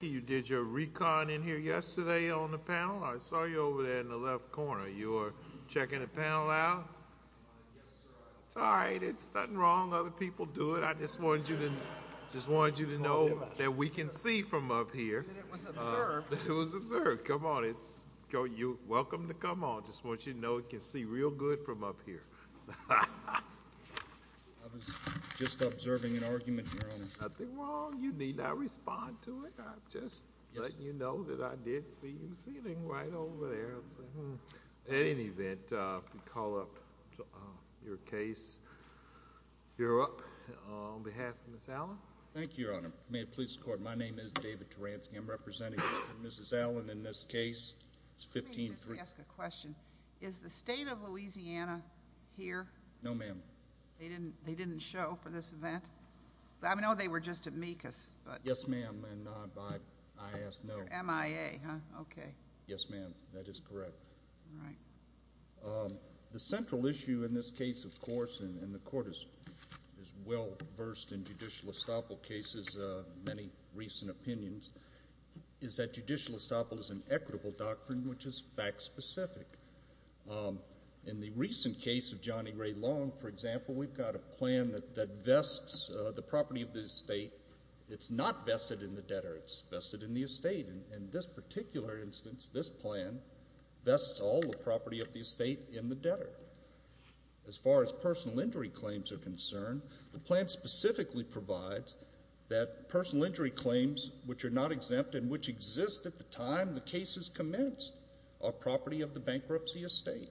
You did your recon in here yesterday on the panel. I saw you over there in the left corner. You're checking the panel out? Yes, sir. It's all right. It's nothing wrong. Other people do it. I just wanted you to know that we can see from up here. It was observed. It was observed. Come on. You're welcome to come on. I just want you to know we can see real good from up here. I was just observing an argument, Your Honor. It's nothing wrong. You need not respond to it. I'm just letting you know that I did see you sitting right over there. At any event, we call up your case. You're up on behalf of Ms. Allen. Thank you, Your Honor. May it please the Court, my name is David Taransky. I'm representing Mr. and Mrs. Allen in this case. It's 15-3. Let me just ask a question. Is the state of Louisiana here? No, ma'am. They didn't show for this event? I know they were just at MECAS. Yes, ma'am. I asked no. MIA, huh? Okay. Yes, ma'am. That is correct. All right. The central issue in this case, of course, and the Court is well versed in judicial estoppel cases, many recent opinions, is that judicial estoppel is an equitable doctrine which is fact-specific. In the recent case of Johnny Ray Long, for example, we've got a plan that vests the property of the estate. It's not vested in the debtor. It's vested in the estate. In this particular instance, this plan vests all the property of the estate in the debtor. As far as personal injury claims are concerned, the plan specifically provides that personal injury claims, which are not exempt and which exist at the time the case is commenced, are property of the bankruptcy estate.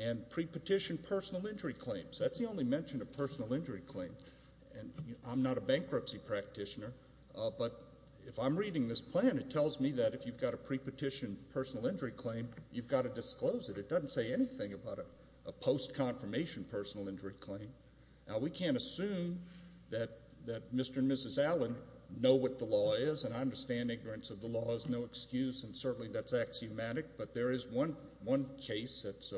And pre-petition personal injury claims, that's the only mention of personal injury claims. I'm not a bankruptcy practitioner, but if I'm reading this plan, it tells me that if you've got a pre-petition personal injury claim, you've got to disclose it. It doesn't say anything about a post-confirmation personal injury claim. Now, we can't assume that Mr. and Mrs. Allen know what the law is, and I understand ignorance of the law is no excuse, and certainly that's axiomatic, but there is one case that's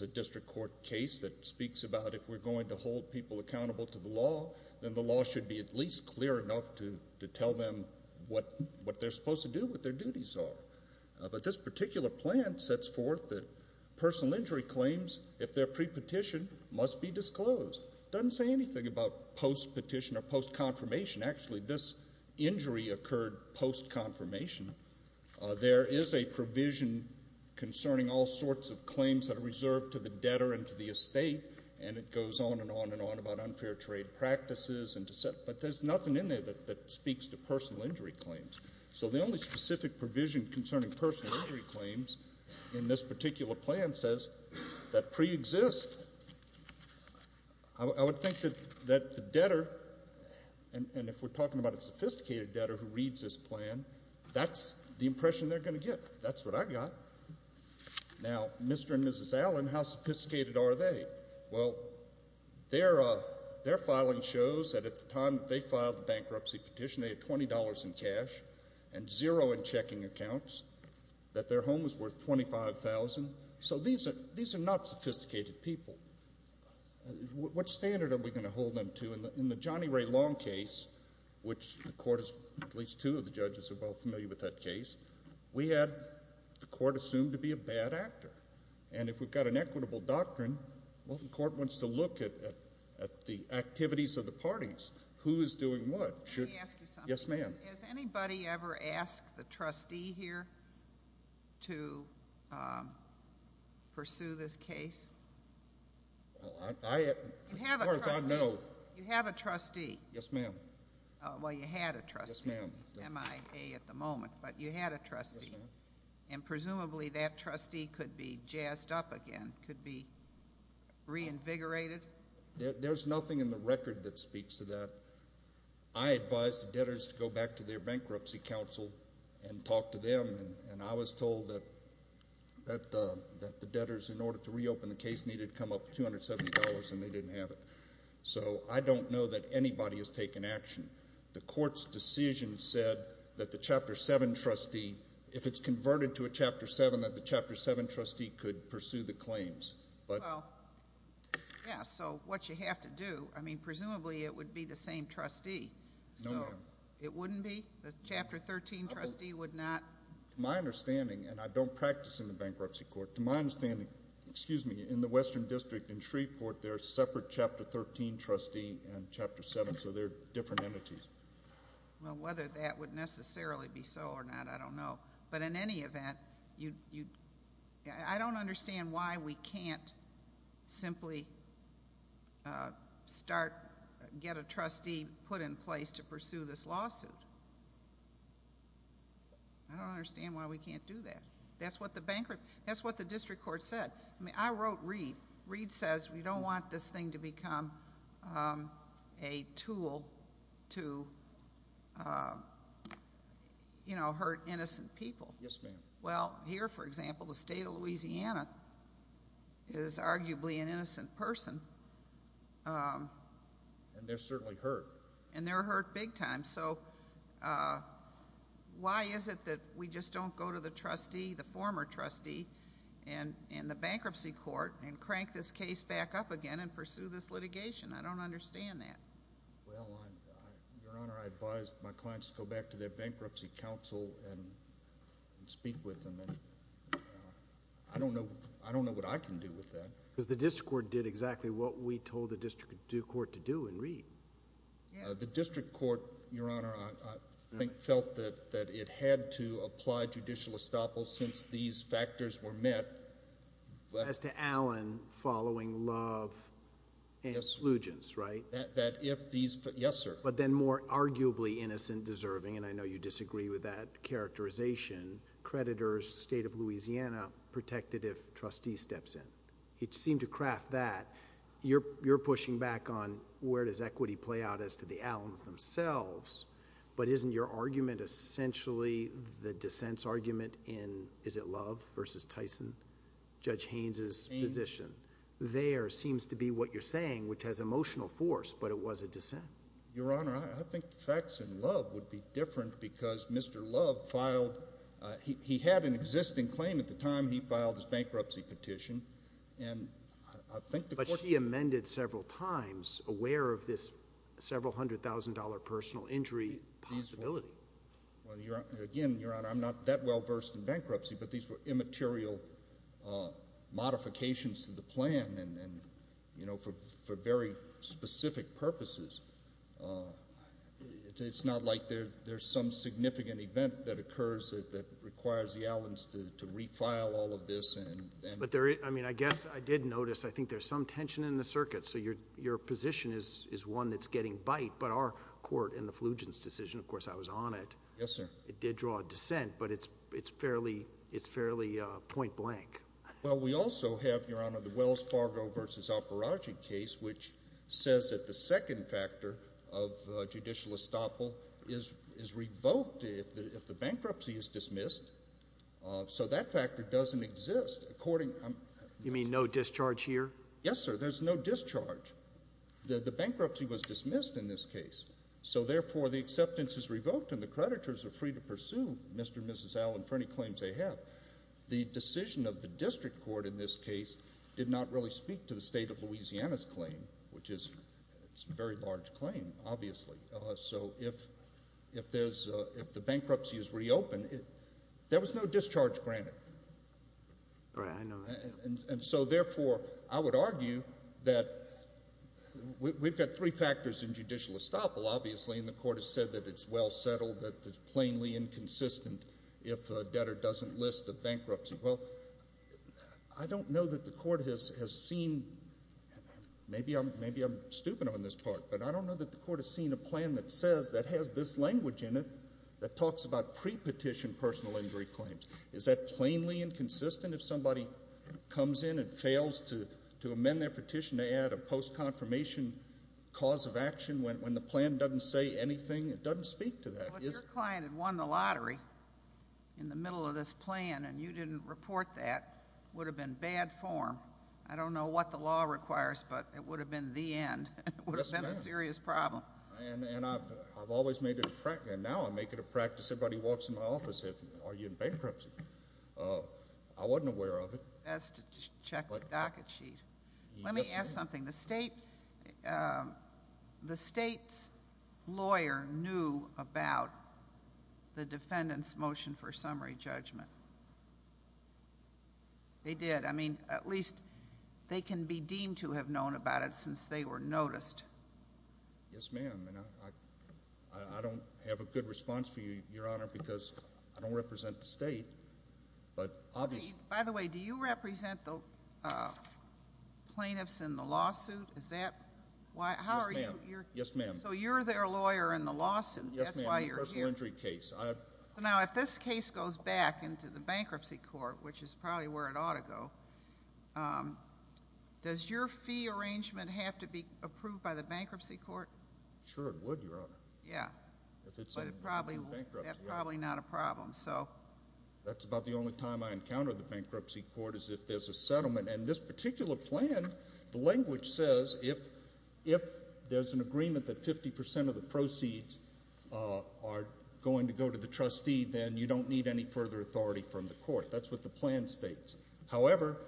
a district court case that speaks about if we're going to hold people accountable to the law, then the law should be at least clear enough to tell them what they're supposed to do, what their duties are. But this particular plan sets forth that personal injury claims, if they're pre-petition, must be disclosed. It doesn't say anything about post-petition or post-confirmation. Actually, this injury occurred post-confirmation. There is a provision concerning all sorts of claims that are reserved to the debtor and to the estate, and it goes on and on and on about unfair trade practices, but there's nothing in there that speaks to personal injury claims. So the only specific provision concerning personal injury claims in this particular plan says that pre-exist. I would think that the debtor, and if we're talking about a sophisticated debtor who reads this plan, that's the impression they're going to get. That's what I got. Now, Mr. and Mrs. Allen, how sophisticated are they? Well, their filing shows that at the time that they filed the bankruptcy petition, they had $20 in cash and zero in checking accounts, that their home was worth $25,000. So these are not sophisticated people. What standard are we going to hold them to? In the Johnny Ray Long case, which the court is, at least two of the judges are well familiar with that case, we had the court assume to be a bad actor. And if we've got an equitable doctrine, well, the court wants to look at the activities of the parties. Who is doing what? Let me ask you something. Yes, ma'am. Has anybody ever asked the trustee here to pursue this case? As far as I know. You have a trustee. Yes, ma'am. Well, you had a trustee. Yes, ma'am. MIA at the moment, but you had a trustee. Yes, ma'am. And presumably that trustee could be jazzed up again, could be reinvigorated? There's nothing in the record that speaks to that. I advised the debtors to go back to their bankruptcy counsel and talk to them, and I was told that the debtors, in order to reopen the case needed to come up with $270, and they didn't have it. So I don't know that anybody has taken action. The court's decision said that the Chapter 7 trustee, if it's converted to a Chapter 7, that the Chapter 7 trustee could pursue the claims. Well, yes, so what you have to do, I mean, presumably it would be the same trustee. No, ma'am. So it wouldn't be? The Chapter 13 trustee would not? To my understanding, and I don't practice in the bankruptcy court, to my understanding, excuse me, in the Western District in Shreveport, there's separate Chapter 13 trustee and Chapter 7, so they're different entities. Well, whether that would necessarily be so or not, I don't know. But in any event, I don't understand why we can't simply start, get a trustee put in place to pursue this lawsuit. I don't understand why we can't do that. That's what the district court said. I mean, I wrote Reid. Reid says we don't want this thing to become a tool to, you know, hurt innocent people. Yes, ma'am. Well, here, for example, the state of Louisiana is arguably an innocent person. And they're certainly hurt. And they're hurt big time. So why is it that we just don't go to the trustee, the former trustee in the bankruptcy court, and crank this case back up again and pursue this litigation? I don't understand that. Well, Your Honor, I advise my clients to go back to their bankruptcy counsel and speak with them. And I don't know what I can do with that. Because the district court did exactly what we told the district court to do in Reid. The district court, Your Honor, I think felt that it had to apply judicial estoppel since these factors were met. As to Allen following love and allegiance, right? That if these... yes, sir. But then more arguably innocent deserving, and I know you disagree with that characterization, creditors, state of Louisiana protected if trustee steps in. It seemed to craft that. You're pushing back on where does equity play out as to the Allens themselves. But isn't your argument essentially the dissent's argument in, is it Love versus Tyson, Judge Haynes' position? There seems to be what you're saying, which has emotional force, but it was a dissent. Your Honor, I think the facts in Love would be different because Mr. Love filed... he had an existing claim at the time he filed his bankruptcy petition. But she amended several times aware of this several hundred thousand dollar personal injury possibility. Again, Your Honor, I'm not that well versed in bankruptcy, but these were immaterial modifications to the plan for very specific purposes. It's not like there's some significant event that occurs that requires the Allens to refile all of this. But I guess I did notice I think there's some tension in the circuit. So your position is one that's getting bite, but our court in the Flugents' decision, of course I was on it. Yes, sir. It did draw a dissent, but it's fairly point blank. Well, we also have, Your Honor, the Wells Fargo versus Alparagi case, which says that the second factor of judicial estoppel is revoked if the bankruptcy is dismissed. So that factor doesn't exist. You mean no discharge here? Yes, sir. There's no discharge. The bankruptcy was dismissed in this case. So therefore, the acceptance is revoked and the creditors are free to pursue Mr. and Mrs. Allen for any claims they have. The decision of the district court in this case did not really speak to the state of Louisiana's claim, which is a very large claim, obviously. So if the bankruptcy is reopened, there was no discharge granted. Right. I know that. And so therefore, I would argue that we've got three factors in judicial estoppel, obviously, and the court has said that it's well settled, that it's plainly inconsistent if a debtor doesn't list a bankruptcy. Well, I don't know that the court has seen – maybe I'm stupid on this part, but I don't know that the court has seen a plan that says – that has this language in it that talks about pre-petition personal injury claims. Is that plainly inconsistent if somebody comes in and fails to amend their petition to add a post-confirmation cause of action when the plan doesn't say anything? It doesn't speak to that. If your client had won the lottery in the middle of this plan and you didn't report that, it would have been bad form. I don't know what the law requires, but it would have been the end. It would have been a serious problem. Yes, ma'am. And I've always made it a practice – and now I make it a practice everybody walks into my office and says, are you in bankruptcy? I wasn't aware of it. Best to check the docket sheet. Let me ask something. The state's lawyer knew about the defendant's motion for summary judgment. They did. I mean, at least they can be deemed to have known about it since they were noticed. Yes, ma'am. And I don't have a good response for you, Your Honor, because I don't represent the state, but obviously – By the way, do you represent the plaintiffs in the lawsuit? Is that – how are you – Yes, ma'am. So you're their lawyer in the lawsuit. Yes, ma'am. Personal injury case. So now if this case goes back into the bankruptcy court, which is probably where it ought to go, does your fee arrangement have to be approved by the bankruptcy court? Sure, it would, Your Honor. Yeah. If it's in bankruptcy. But it probably – that's probably not a problem. That's about the only time I encounter the bankruptcy court is if there's a settlement. And this particular plan, the language says if there's an agreement that 50% of the proceeds are going to go to the trustee, then you don't need any further authority from the court. That's what the plan states. However,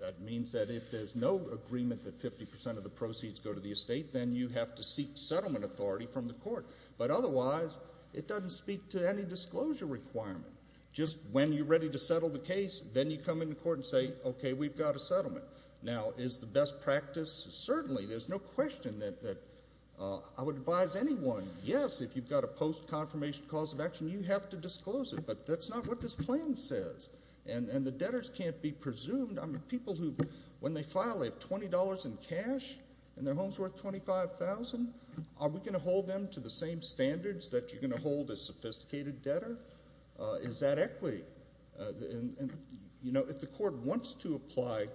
that means that if there's no agreement that 50% of the proceeds go to the estate, then you have to seek settlement authority from the court. But otherwise, it doesn't speak to any disclosure requirement. Just when you're ready to settle the case, then you come into court and say, okay, we've got a settlement. Now, is the best practice? Certainly. There's no question that I would advise anyone, yes, if you've got a post-confirmation cause of action, you have to disclose it. But that's not what this plan says. And the debtors can't be presumed. I mean, people who, when they file, they have $20 in cash and their home's worth $25,000. Are we going to hold them to the same standards that you're going to hold a sophisticated debtor? Is that equity? And, you know, if the court wants to apply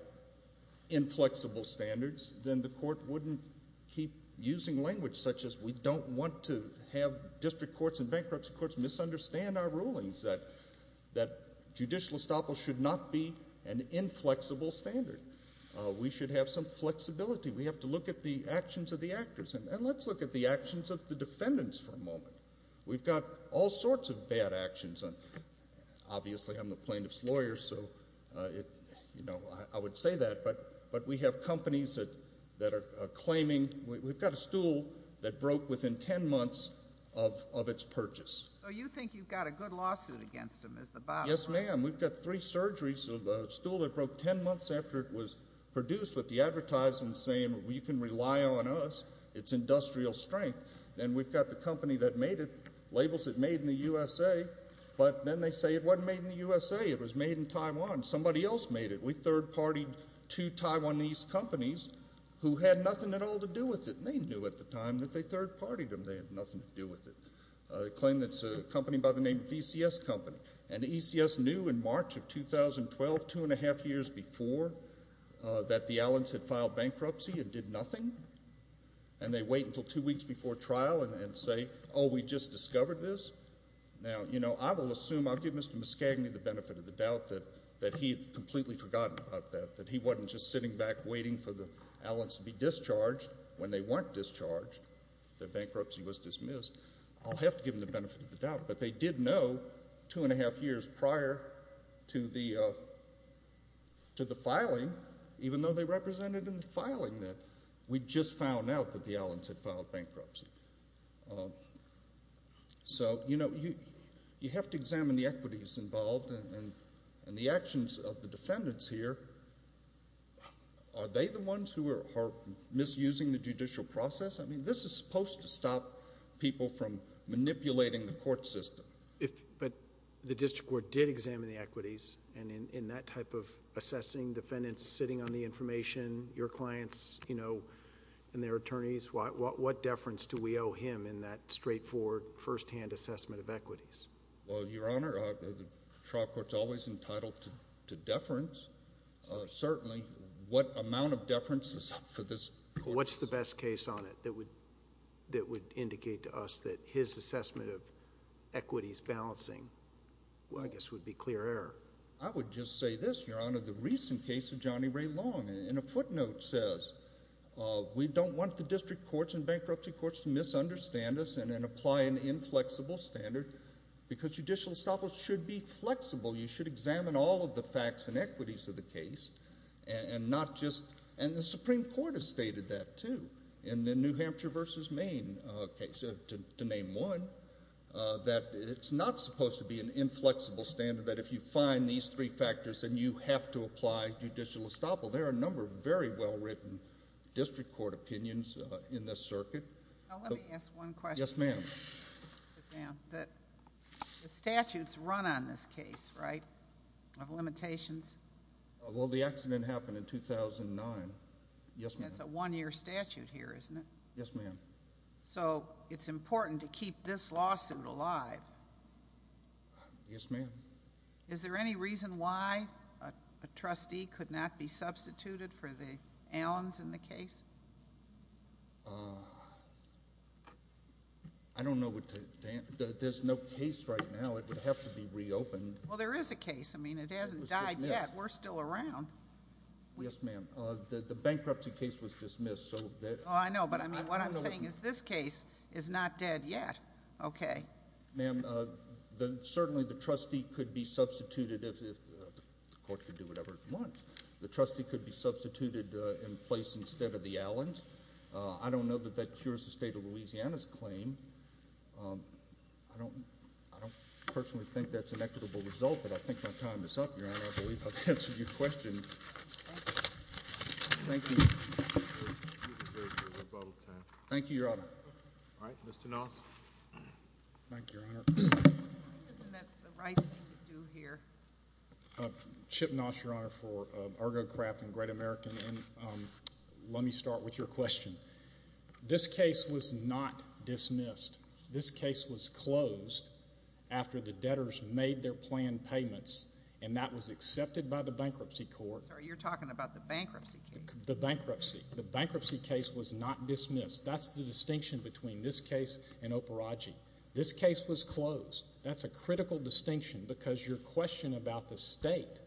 inflexible standards, then the court wouldn't keep using language such as we don't want to have district courts and bankruptcy courts misunderstand our rulings, that judicial estoppel should not be an inflexible standard. We should have some flexibility. We have to look at the actions of the actors. And let's look at the actions of the defendants for a moment. We've got all sorts of bad actions. Obviously, I'm the plaintiff's lawyer, so, you know, I would say that, but we have companies that are claiming we've got a stool that broke within 10 months of its purchase. So you think you've got a good lawsuit against them, is the bottom line? Yes, ma'am. We've got three surgeries, a stool that broke 10 months after it was produced with the advertising saying you can rely on us. It's industrial strength. Then we've got the company that made it, labels it made in the USA, but then they say it wasn't made in the USA. It was made in Taiwan. Somebody else made it. We third-partied two Taiwanese companies who had nothing at all to do with it, and they knew at the time that they third-partied them. They had nothing to do with it. They claim it's a company by the name of ECS Company, and ECS knew in March of 2012, two and a half years before, that the Allens had filed bankruptcy and did nothing, and they wait until two weeks before trial and say, oh, we just discovered this. Now, you know, I will assume, I'll give Mr. Muscagney the benefit of the doubt that he had completely forgotten about that, that he wasn't just sitting back waiting for the Allens to be discharged when they weren't discharged, that bankruptcy was dismissed. I'll have to give him the benefit of the doubt, but they did know two and a half years prior to the filing, even though they represented in the filing that we'd just found out that the Allens had filed bankruptcy. So, you know, you have to examine the equities involved and the actions of the defendants here. Are they the ones who are misusing the judicial process? I mean, this is supposed to stop people from manipulating the court system. But the district court did examine the equities, and in that type of assessing defendants sitting on the information, your clients, you know, and their attorneys, what deference do we owe him in that straightforward, firsthand assessment of equities? Well, Your Honor, the trial court's always entitled to deference. Certainly, what amount of deference is up for this court? What's the best case on it that would indicate to us that his assessment of equities balancing, I guess, would be clear error? I would just say this, Your Honor. The recent case of Johnny Ray Long, in a footnote, says, we don't want the district courts and bankruptcy courts to misunderstand us and then apply an inflexible standard, because judicial establishments should be flexible. You should examine all of the facts and equities of the case, and the Supreme Court has stated that, too, in the New Hampshire v. Maine case. To name one, that it's not supposed to be an inflexible standard, that if you find these three factors, then you have to apply judicial estoppel. There are a number of very well-written district court opinions in this circuit. Let me ask one question. Yes, ma'am. The statutes run on this case, right, of limitations? Well, the accident happened in 2009. Yes, ma'am. That's a one-year statute here, isn't it? Yes, ma'am. So it's important to keep this lawsuit alive. Yes, ma'am. Is there any reason why a trustee could not be substituted for the Allens in the case? I don't know what to answer. There's no case right now. It would have to be reopened. Well, there is a case. I mean, it hasn't died yet. We're still around. Yes, ma'am. The bankruptcy case was dismissed. Oh, I know, but I mean, what I'm saying is this case is not dead yet. Okay. Ma'am, certainly the trustee could be substituted if the court could do whatever it wants. The trustee could be substituted in place instead of the Allens. I don't know that that cures the state of Louisiana's claim. I don't personally think that's an equitable result, but I think my time is up, Your Honor. I believe I've answered your question. Thank you. Thank you, Your Honor. All right, Mr. Noss. Thank you, Your Honor. Isn't that the right thing to do here? Chip Noss, Your Honor, for ArgoCraft and Great American, and let me start with your question. This case was not dismissed. This case was closed after the debtors made their planned payments, and that was accepted by the bankruptcy court. Sir, you're talking about the bankruptcy case. The bankruptcy. The bankruptcy case was not dismissed. That's the distinction between this case and Operagi. This case was closed. That's a critical distinction because your question about the state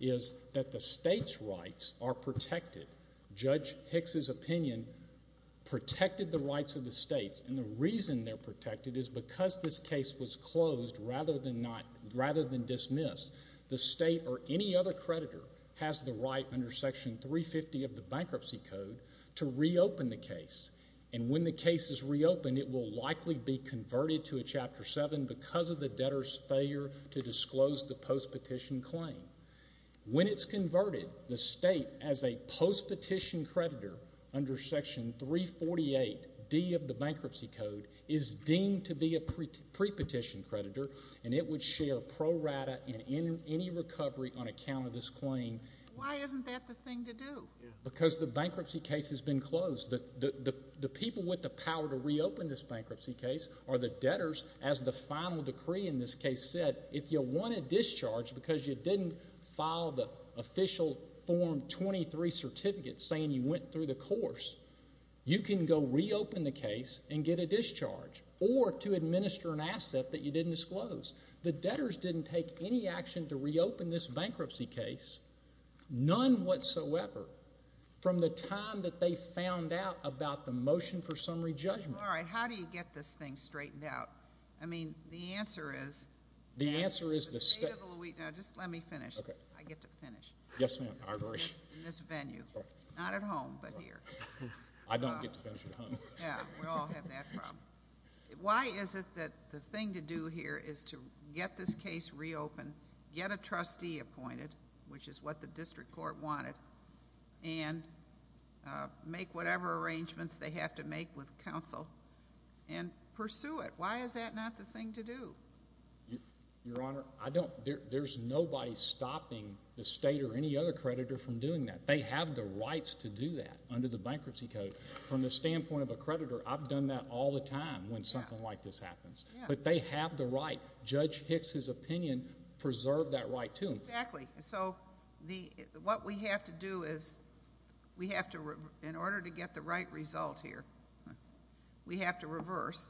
is that the state's rights are protected. Judge Hicks's opinion protected the rights of the states, and the reason they're protected is because this case was closed rather than dismissed. The state or any other creditor has the right under Section 350 of the Bankruptcy Code to reopen the case, and when the case is reopened, it will likely be converted to a Chapter 7 because of the debtors' failure to disclose the postpetition claim. When it's converted, the state, as a postpetition creditor under Section 348D of the Bankruptcy Code, is deemed to be a prepetition creditor, and it would share pro rata in any recovery on account of this claim. Why isn't that the thing to do? Because the bankruptcy case has been closed. The people with the power to reopen this bankruptcy case are the debtors. As the final decree in this case said, if you want a discharge because you didn't file the official Form 23 certificate saying you went through the course, you can go reopen the case and get a discharge or to administer an asset that you didn't disclose. The debtors didn't take any action to reopen this bankruptcy case, none whatsoever, from the time that they found out about the motion for summary judgment. All right. How do you get this thing straightened out? I mean, the answer is the State of the— The answer is— Just let me finish. Okay. I get to finish. Yes, ma'am. In this venue. Not at home, but here. I don't get to finish at home. Yeah. We all have that problem. Why is it that the thing to do here is to get this case reopened, get a trustee appointed, which is what the district court wanted, and make whatever arrangements they have to make with counsel and pursue it? Why is that not the thing to do? Your Honor, I don't—there's nobody stopping the State or any other creditor from doing that. They have the rights to do that under the Bankruptcy Code. From the standpoint of a creditor, I've done that all the time when something like this happens. Yeah. But they have the right. Judge Hicks's opinion preserved that right, too. Exactly. So what we have to do is we have to—in order to get the right result here, we have to reverse.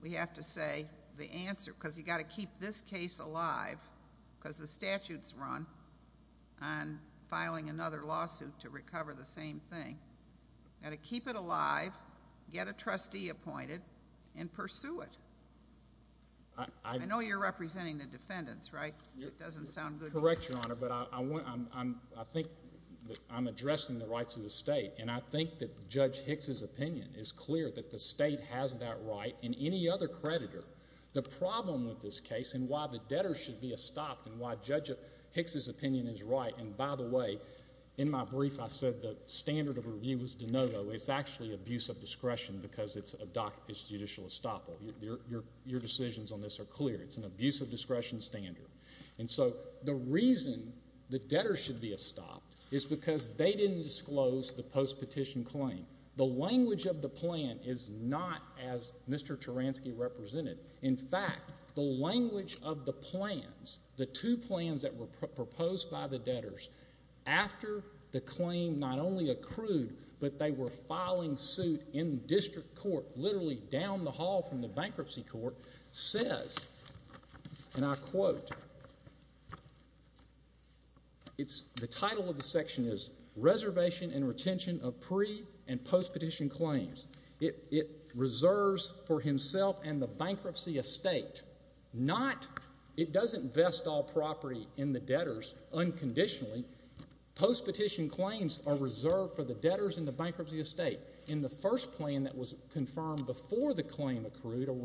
We have to say the answer, because you've got to keep this case alive, because the statute's run on filing another lawsuit to recover the same thing. You've got to keep it alive, get a trustee appointed, and pursue it. I know you're representing the defendants, right? It doesn't sound good to me. Correct, Your Honor, but I think I'm addressing the rights of the State, and I think that Judge Hicks's opinion is clear that the State has that right, and any other creditor. The problem with this case and why the debtors should be stopped and why Judge Hicks's opinion is right— and by the way, in my brief I said the standard of review was de novo. It's actually abuse of discretion because it's judicial estoppel. Your decisions on this are clear. It's an abuse of discretion standard. And so the reason the debtors should be stopped is because they didn't disclose the post-petition claim. The language of the plan is not as Mr. Taransky represented. In fact, the language of the plans, the two plans that were proposed by the debtors after the claim not only accrued, but they were filing suit in district court, literally down the hall from the bankruptcy court, says, and I quote, the title of the section is Reservation and Retention of Pre- and Post-petition Claims. It reserves for himself and the bankruptcy estate. It doesn't vest all property in the debtors unconditionally. Post-petition claims are reserved for the debtors and the bankruptcy estate. In the first plan that was confirmed before the claim accrued or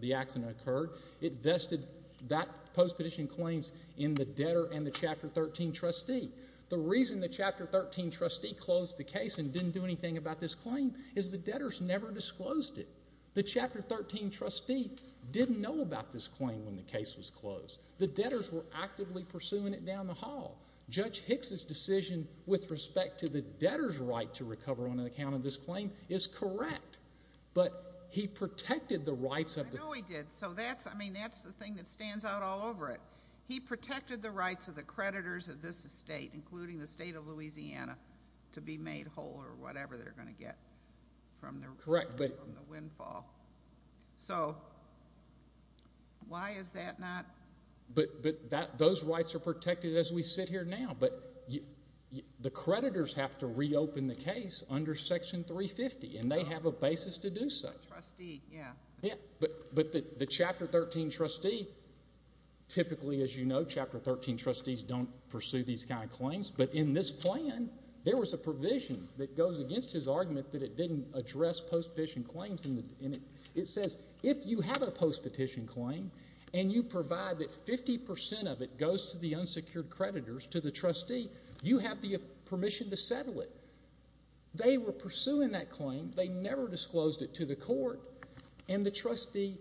the accident occurred, it vested that post-petition claims in the debtor and the Chapter 13 trustee. The reason the Chapter 13 trustee closed the case and didn't do anything about this claim is the debtors never disclosed it. The Chapter 13 trustee didn't know about this claim when the case was closed. The debtors were actively pursuing it down the hall. Judge Hicks's decision with respect to the debtors' right to recover on account of this claim is correct, but he protected the rights of the- I know he did. So that's, I mean, that's the thing that stands out all over it. He protected the rights of the creditors of this estate, including the state of Louisiana, to be made whole or whatever they're going to get from the windfall. So why is that not- But those rights are protected as we sit here now, but the creditors have to reopen the case under Section 350, and they have a basis to do so. Trustee, yeah. Yeah, but the Chapter 13 trustee typically, as you know, Chapter 13 trustees don't pursue these kind of claims, but in this plan there was a provision that goes against his argument that it didn't address post-petition claims. It says if you have a post-petition claim and you provide that 50 percent of it goes to the unsecured creditors, to the trustee, you have the permission to settle it. They were pursuing that claim. They never disclosed it to the court, and the trustee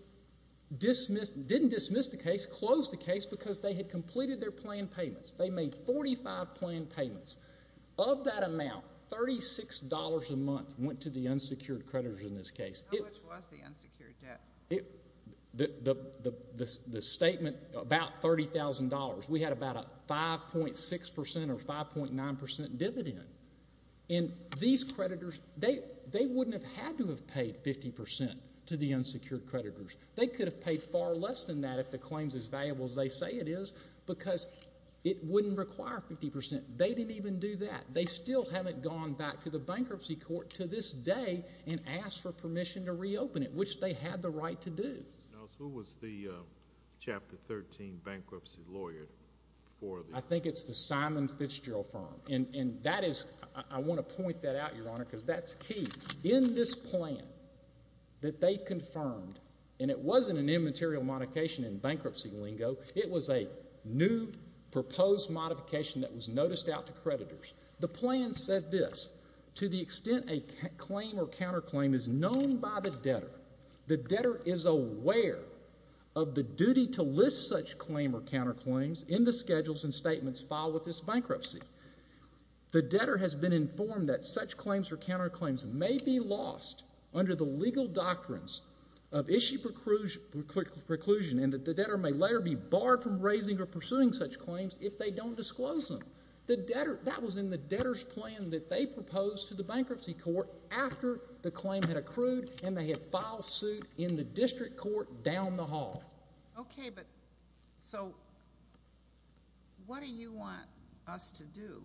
didn't dismiss the case, closed the case because they had completed their planned payments. They made 45 planned payments. Of that amount, $36 a month went to the unsecured creditors in this case. How much was the unsecured debt? The statement about $30,000, we had about a 5.6 percent or 5.9 percent dividend, and these creditors, they wouldn't have had to have paid 50 percent to the unsecured creditors. They could have paid far less than that if the claim is as valuable as they say it is because it wouldn't require 50 percent. They didn't even do that. They still haven't gone back to the bankruptcy court to this day and asked for permission to reopen it, which they had the right to do. Who was the Chapter 13 bankruptcy lawyer for the— I think it's the Simon Fitzgerald firm, and that is—I want to point that out, Your Honor, because that's key. In this plan that they confirmed, and it wasn't an immaterial modification in bankruptcy lingo. It was a new proposed modification that was noticed out to creditors. The plan said this. To the extent a claim or counterclaim is known by the debtor, the debtor is aware of the duty to list such claim or counterclaims in the schedules and statements filed with this bankruptcy. The debtor has been informed that such claims or counterclaims may be lost under the legal doctrines of issue preclusion and that the debtor may later be barred from raising or pursuing such claims if they don't disclose them. That was in the debtor's plan that they proposed to the bankruptcy court after the claim had accrued and they had filed suit in the district court down the hall. Okay, but so what do you want us to do?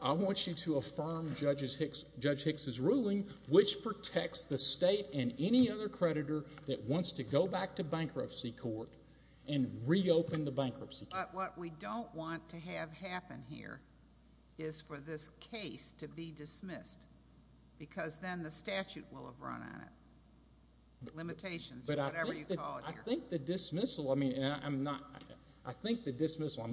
I want you to affirm Judge Hicks's ruling, which protects the state and any other creditor that wants to go back to bankruptcy court and reopen the bankruptcy case. But what we don't want to have happen here is for this case to be dismissed because then the statute will have run on it, limitations or whatever you call it here. But I think the dismissal—I mean, I'm not—I think the dismissal— but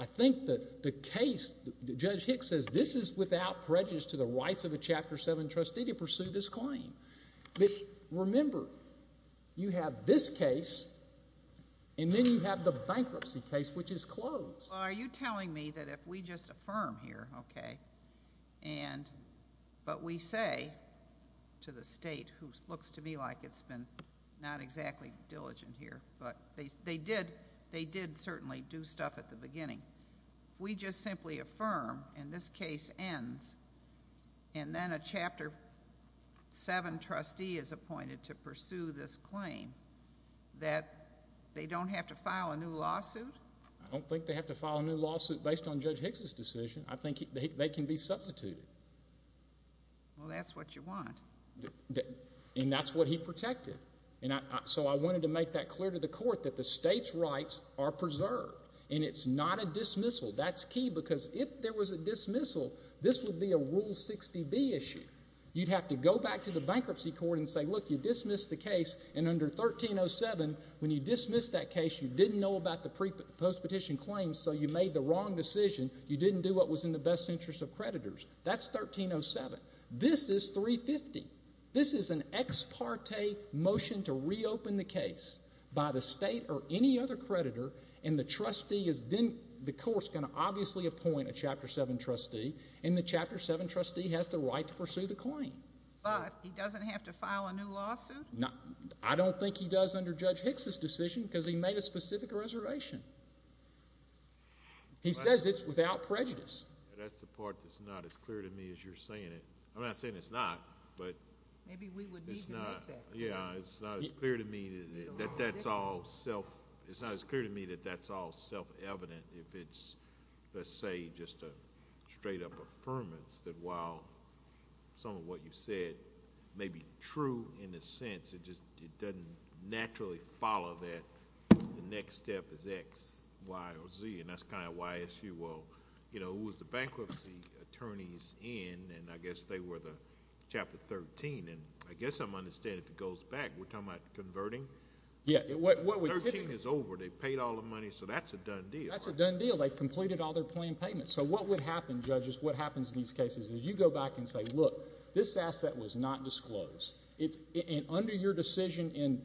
I think the case, Judge Hicks says, this is without prejudice to the rights of a Chapter 7 trustee to pursue this claim. Remember, you have this case and then you have the bankruptcy case, which is closed. Are you telling me that if we just affirm here, okay, but we say to the state, who looks to me like it's been not exactly diligent here, but they did certainly do stuff at the beginning. If we just simply affirm and this case ends and then a Chapter 7 trustee is appointed to pursue this claim, that they don't have to file a new lawsuit? I don't think they have to file a new lawsuit based on Judge Hicks's decision. I think they can be substituted. Well, that's what you want. And that's what he protected. And so I wanted to make that clear to the court that the state's rights are preserved. And it's not a dismissal. That's key because if there was a dismissal, this would be a Rule 60B issue. You'd have to go back to the bankruptcy court and say, look, you dismissed the case. And under 1307, when you dismissed that case, you didn't know about the post-petition claims, so you made the wrong decision. You didn't do what was in the best interest of creditors. That's 1307. This is 350. This is an ex parte motion to reopen the case by the state or any other creditor, and the trustee is then, the court's going to obviously appoint a Chapter 7 trustee, and the Chapter 7 trustee has the right to pursue the claim. But he doesn't have to file a new lawsuit? I don't think he does under Judge Hicks's decision because he made a specific reservation. He says it's without prejudice. That's the part that's not as clear to me as you're saying it. I'm not saying it's not, but... Maybe we would need to make that clear. Yeah, it's not as clear to me that that's all self... It's not as clear to me that that's all self-evident if it's, let's say, just a straight-up affirmance that while some of what you said may be true in a sense, it doesn't naturally follow that the next step is X, Y, or Z, and that's kind of why, if you will, you know, it was the bankruptcy attorneys in, and I guess they were the Chapter 13, and I guess I'm understanding if it goes back, we're talking about converting? Yeah, what we... 13 is over. They paid all the money, so that's a done deal, right? That's a done deal. They've completed all their planned payments. So what would happen, judges, what happens in these cases is you go back and say, look, this asset was not disclosed. Under your decision in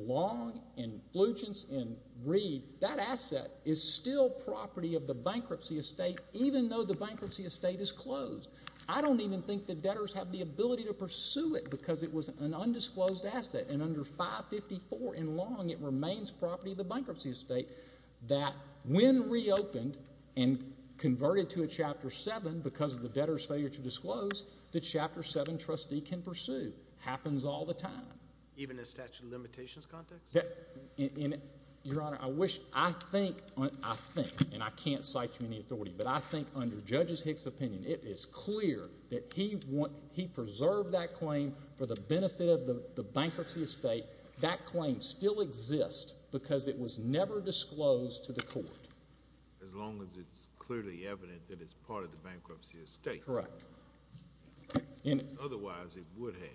Long, in Flugents, in Reed, that asset is still property of the bankruptcy estate even though the bankruptcy estate is closed. I don't even think the debtors have the ability to pursue it because it was an undisclosed asset, and under 554 in Long, it remains property of the bankruptcy estate that when reopened and converted to a Chapter 7 because of the debtor's failure to disclose, the Chapter 7 trustee can pursue. Happens all the time. Even in a statute of limitations context? Your Honor, I wish... I think, and I can't cite you any authority, but I think under Judge Hicks' opinion, it is clear that he preserved that claim for the benefit of the bankruptcy estate. That claim still exists because it was never disclosed to the court. As long as it's clearly evident that it's part of the bankruptcy estate. Correct. Otherwise, it would have.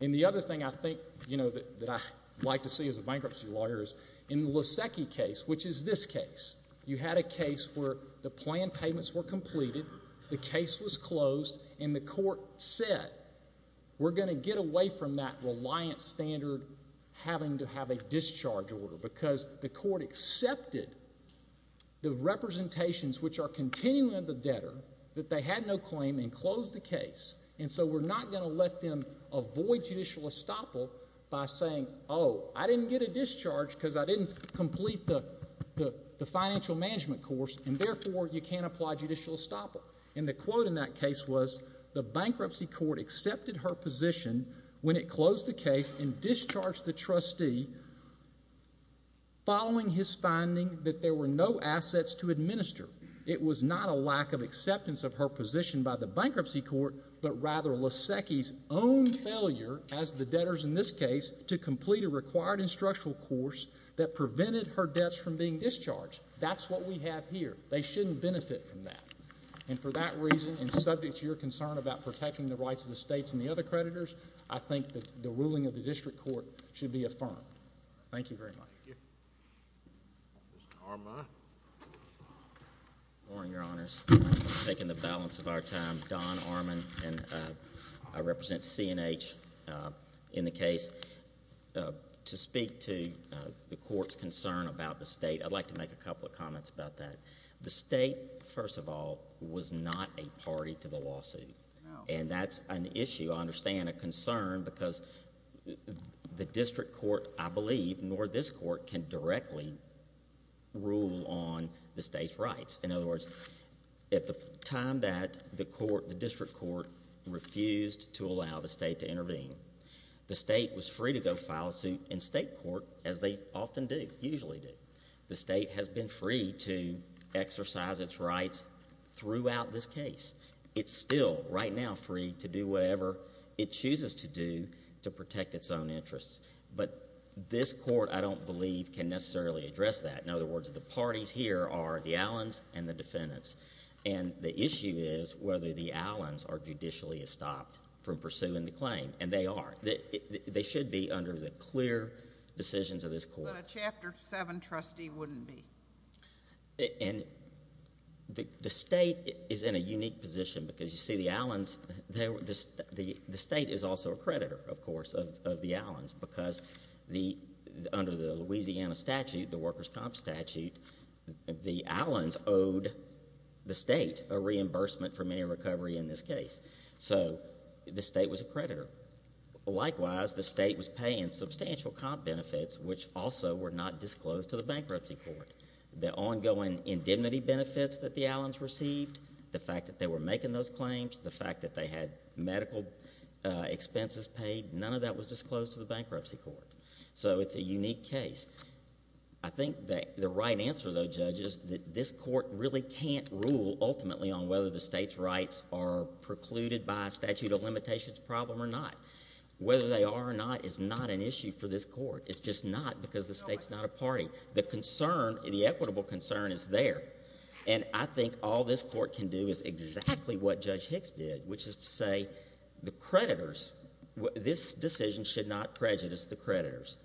And the other thing I think, you know, that I like to see as a bankruptcy lawyer is in the Lasecki case, which is this case. You had a case where the planned payments were completed, the case was closed, and the court said, we're going to get away from that reliant standard having to have a discharge order because the court accepted the representations which are continuing of the debtor that they had no claim and closed the case. And so, we're not going to let them avoid judicial estoppel by saying, oh, I didn't get a discharge because I didn't complete the financial management course, and therefore you can't apply judicial estoppel. And the quote in that case was, the bankruptcy court accepted her position when it closed the case and discharged the trustee following his finding that there were no assets to administer. It was not a lack of acceptance of her position by the bankruptcy court, but rather Lasecki's own failure as the debtors in this case to complete a required instructional course that prevented her debts from being discharged. That's what we have here. They shouldn't benefit from that. And for that reason, and subject to your concern about protecting the rights of the states and the other creditors, I think that the ruling of the district court should be affirmed. Thank you very much. Thank you. Mr. Armand? Your Honors, taking the balance of our time, Don Armand, and I represent C&H in the case. To speak to the court's concern about the state, I'd like to make a couple of comments about that. The state, first of all, was not a party to the lawsuit. No. And that's an issue, I understand, a concern, because the district court, I believe, nor this court can directly rule on the state's rights. In other words, at the time that the district court refused to allow the state to intervene, the state was free to go file a suit in state court, as they often do, usually do. The state has been free to exercise its rights throughout this case. It's still, right now, free to do whatever it chooses to do to protect its own interests. But this court, I don't believe, can necessarily address that. In other words, the parties here are the Allens and the defendants. And the issue is whether the Allens are judicially stopped from pursuing the claim, and they are. They should be under the clear decisions of this court. But a Chapter 7 trustee wouldn't be. And the state is in a unique position, because you see the Allens, the state is also a creditor, of course, of the Allens, because under the Louisiana statute, the workers' comp statute, the Allens owed the state a reimbursement for many a recovery in this case. So the state was a creditor. Likewise, the state was paying substantial comp benefits, which also were not disclosed to the bankruptcy court. The ongoing indemnity benefits that the Allens received, the fact that they were making those to the bankruptcy court. So it's a unique case. I think that the right answer, though, Judge, is that this court really can't rule ultimately on whether the state's rights are precluded by a statute of limitations problem or not. Whether they are or not is not an issue for this court. It's just not, because the state's not a party. The concern, the equitable concern, is there. And I think all this court can do is exactly what Judge Hicks did, which is to say the this decision should not prejudice the creditors.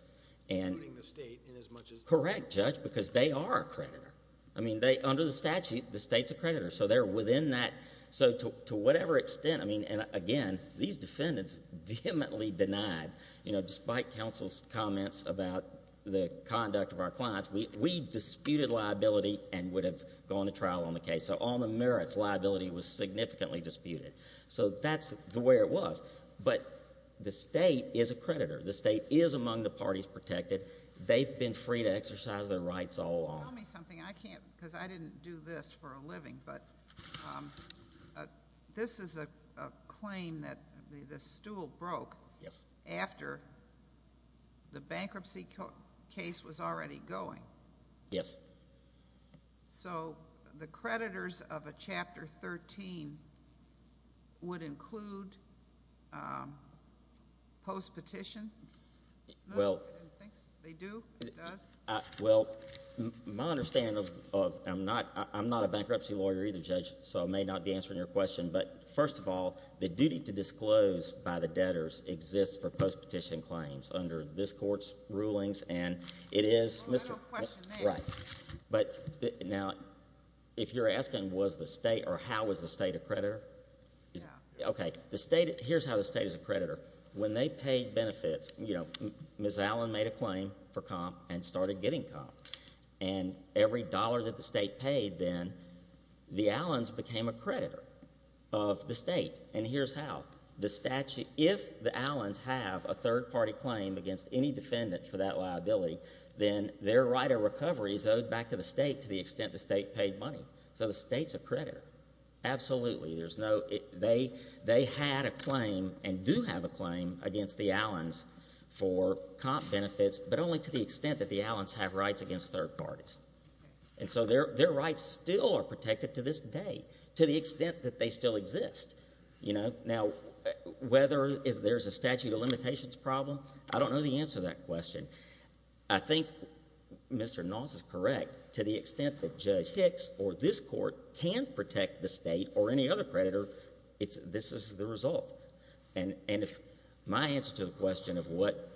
Including the state in as much as... Correct, Judge, because they are a creditor. I mean, under the statute, the state's a creditor, so they're within that... So to whatever extent, I mean, and again, these defendants vehemently denied, you know, despite counsel's comments about the conduct of our clients, we disputed liability and would have gone to trial on the case. So on the merits, liability was significantly disputed. So that's the way it was. But the state is a creditor. The state is among the parties protected. They've been free to exercise their rights all along. Tell me something. I can't, because I didn't do this for a living, but this is a claim that the stool broke... Yes.... after the bankruptcy case was already going. Yes. So the creditors of a Chapter 13 would include post-petition? Well... They do? It does? Well, my understanding of... I'm not a bankruptcy lawyer either, Judge, so I may not be answering your question, but first of all, the duty to disclose by the debtors exists for post-petition claims under this Court's rulings, and it is... A little question there. Right. But now, if you're asking was the state or how was the state a creditor... Yeah. Okay. Here's how the state is a creditor. When they paid benefits, you know, Ms. Allen made a claim for comp and started getting comp, and every dollar that the state paid then, the Allens became a creditor of the state, and here's how. If the Allens have a third-party claim against any defendant for that liability, then their right of recovery is owed back to the state to the extent the state paid money. So the state's a creditor. Absolutely. There's no... They had a claim and do have a claim against the Allens for comp benefits, but only to the extent that the Allens have rights against third parties. And so their rights still are protected to this day, to the extent that they still exist, you know? Now, whether there's a statute of limitations problem, I don't know the answer to that question. I think Mr. Noss is correct. To the extent that Judge Hicks or this Court can protect the state or any other creditor, this is the result. And my answer to the question of what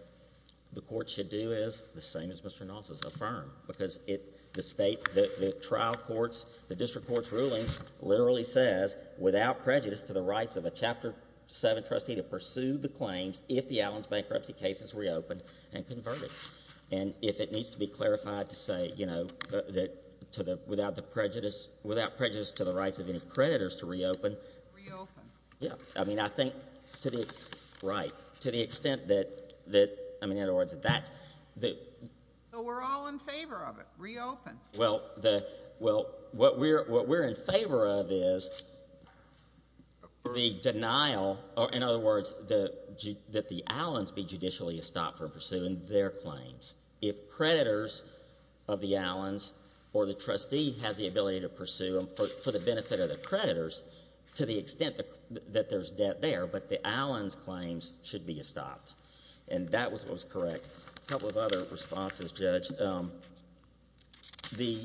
the Court should do is the same as Mr. Noss has affirmed, because the trial court's, the district court's ruling literally says, without prejudice to the rights of a Chapter VII trustee to pursue the claims if the Allens bankruptcy case is reopened and converted. And if it needs to be clarified to say, you know, that to the... without the prejudice... without prejudice to the rights of any creditors to reopen... Reopen. Yeah. I mean, I think to the... Right. To the extent that... I mean, in other words, that that's... So we're all in favor of it. Reopen. Well, the... Well, what we're in favor of is the denial... or, in other words, the... that the Allens be judicially estopped from pursuing their claims. If creditors of the Allens or the trustee has the ability to pursue them for the benefit of the creditors to the extent that there's debt there, but the Allens claims should be estopped. And that was what was correct. A couple of other responses, Judge. The... the...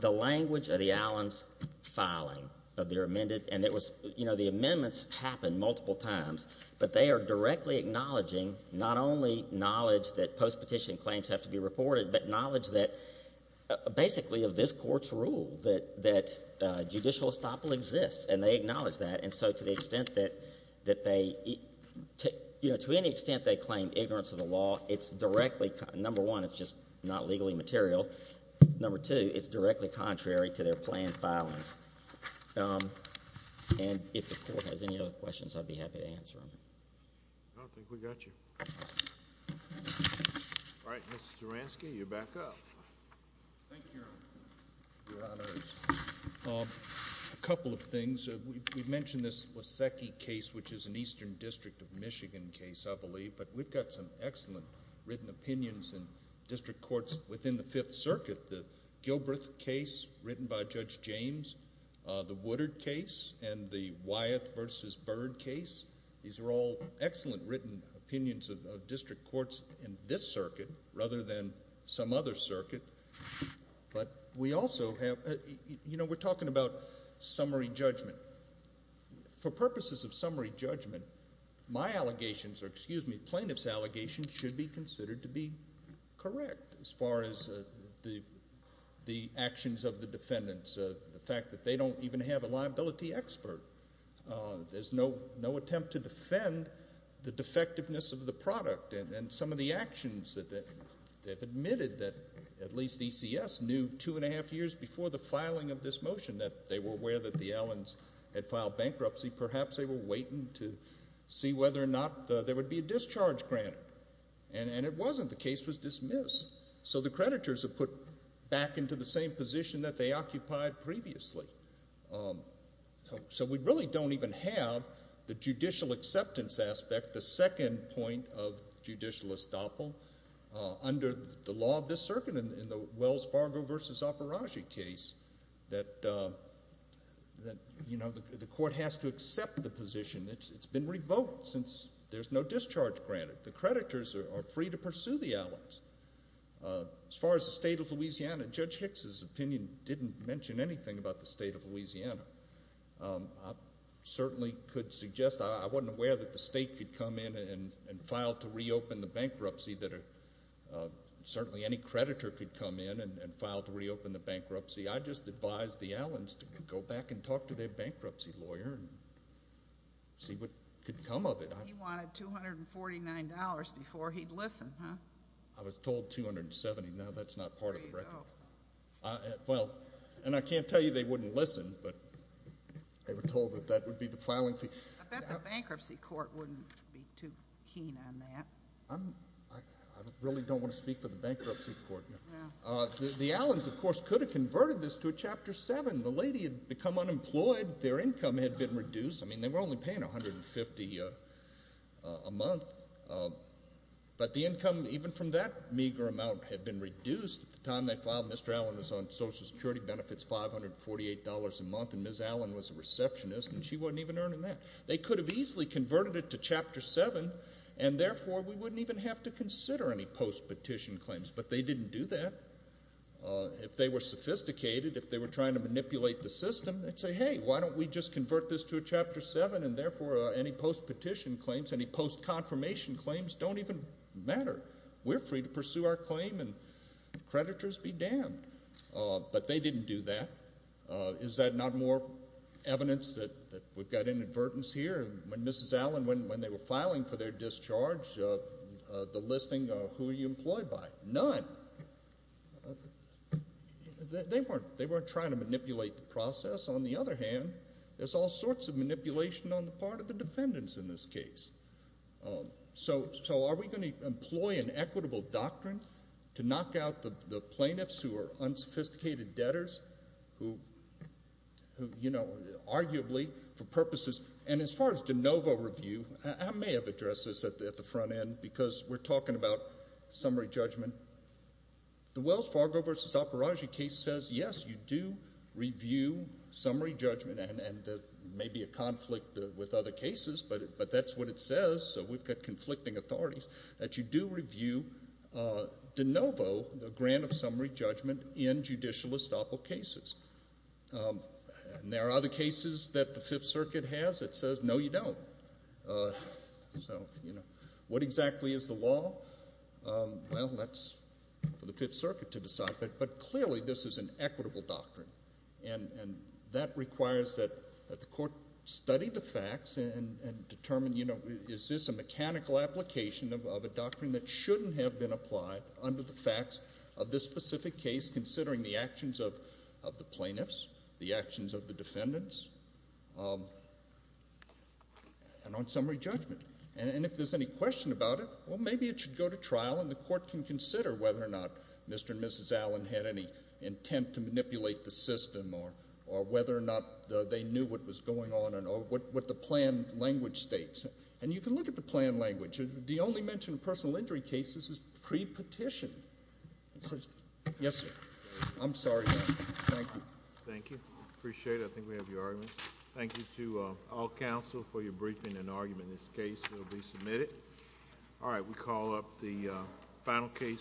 the language of the Allens filing of their amended... and it was... you know, the amendments happened multiple times, but they are directly acknowledging not only knowledge that post-petition claims have to be reported, but knowledge that basically of this Court's rule that judicial estoppel exists. And they acknowledge that. And so to the extent that they... you know, to any extent they claim ignorance of the law, it's directly... number one, it's just not legally material. Number two, it's directly contrary to their planned filings. And if the Court has any other questions, I'd be happy to answer them. I don't think we got you. All right, Mr. Duransky, you're back up. Thank you, Your Honors. A couple of things. We mentioned this Lesecki case, which is an Eastern District of Michigan case, I believe. But we've got some excellent written opinions in district courts within the Fifth Circuit. The Gilbreth case written by Judge James, the Woodard case, and the Wyeth v. Bird case. These are all excellent written opinions of district courts in this circuit rather than some other circuit. But we also have... you know, we're talking about summary judgment. For purposes of summary judgment, my allegations or, excuse me, plaintiff's allegations should be considered to be correct as far as the actions of the defendants. The fact that they don't even have a liability expert. There's no attempt to defend the defectiveness of the product. And some of the actions that they've admitted that at least ECS knew two and a half years before the filing of this motion that they were aware that the Allens had filed bankruptcy. Perhaps they were waiting to see whether or not there would be a discharge granted. And it wasn't. The case was dismissed. So the creditors are put back into the same position that they occupied previously. So we really don't even have the judicial acceptance aspect, the second point of judicial estoppel, under the law of this circuit in the Wells Fargo v. Operaggi case that, you know, the court has to accept the position. It's been revoked since there's no discharge granted. As far as the state of Louisiana, Judge Hicks's opinion didn't mention anything about the state of Louisiana. I certainly could suggest, I wasn't aware that the state could come in and file to reopen the bankruptcy. Certainly any creditor could come in and file to reopen the bankruptcy. I just advised the Allens to go back and talk to their bankruptcy lawyer and see what could come of it. He wanted $249 before he'd listen, huh? I was told $270. No, that's not part of the record. There you go. Well, and I can't tell you they wouldn't listen, but they were told that that would be the filing fee. I bet the bankruptcy court wouldn't be too keen on that. I really don't want to speak for the bankruptcy court. The Allens, of course, could have converted this to a Chapter 7. The lady had become unemployed. Their income had been reduced. I mean, they were only paying $150 a month. But the income, even from that meager amount, had been reduced. At the time they filed, Mr. Allen was on Social Security benefits, $548 a month, and Ms. Allen was a receptionist, and she wasn't even earning that. They could have easily converted it to Chapter 7, and therefore we wouldn't even have to consider any post-petition claims. But they didn't do that. If they were sophisticated, if they were trying to manipulate the system, they'd say, hey, why don't we just convert this to a Chapter 7, and therefore any post-petition claims, any post-confirmation claims don't even matter. We're free to pursue our claim and creditors be damned. But they didn't do that. Is that not more evidence that we've got inadvertence here? When Mrs. Allen, when they were filing for their discharge, the listing of who are you employed by? None. They weren't trying to manipulate the process. On the other hand, there's all sorts of manipulation on the part of the defendants in this case. So are we going to employ an equitable doctrine to knock out the plaintiffs who are unsophisticated debtors, who, you know, arguably for purposes, and as far as de novo review, I may have addressed this at the front end because we're talking about summary judgment. The Wells Fargo v. Alparagi case says, yes, you do review summary judgment, and there may be a conflict with other cases, but that's what it says, so we've got conflicting authorities, that you do review de novo the grant of summary judgment in judicial estoppel cases. There are other cases that the Fifth Circuit has that says, no, you don't. So, you know, what exactly is the law? Well, that's for the Fifth Circuit to decide, but clearly this is an equitable doctrine, and that requires that the court study the facts and determine, you know, is this a mechanical application of a doctrine that shouldn't have been applied under the facts of this specific case, considering the actions of the plaintiffs, the actions of the defendants, and on summary judgment. And if there's any question about it, well, maybe it should go to trial, and the court can consider whether or not Mr. and Mrs. Allen had any intent to manipulate the system or whether or not they knew what was going on and what the plan language states. And you can look at the plan language. The only mention of personal injury cases is pre-petition. Yes, sir. I'm sorry. Thank you. Thank you. Appreciate it. I think we have your argument. Thank you to all counsel for your briefing and argument. This case will be submitted. All right. We call up the final case.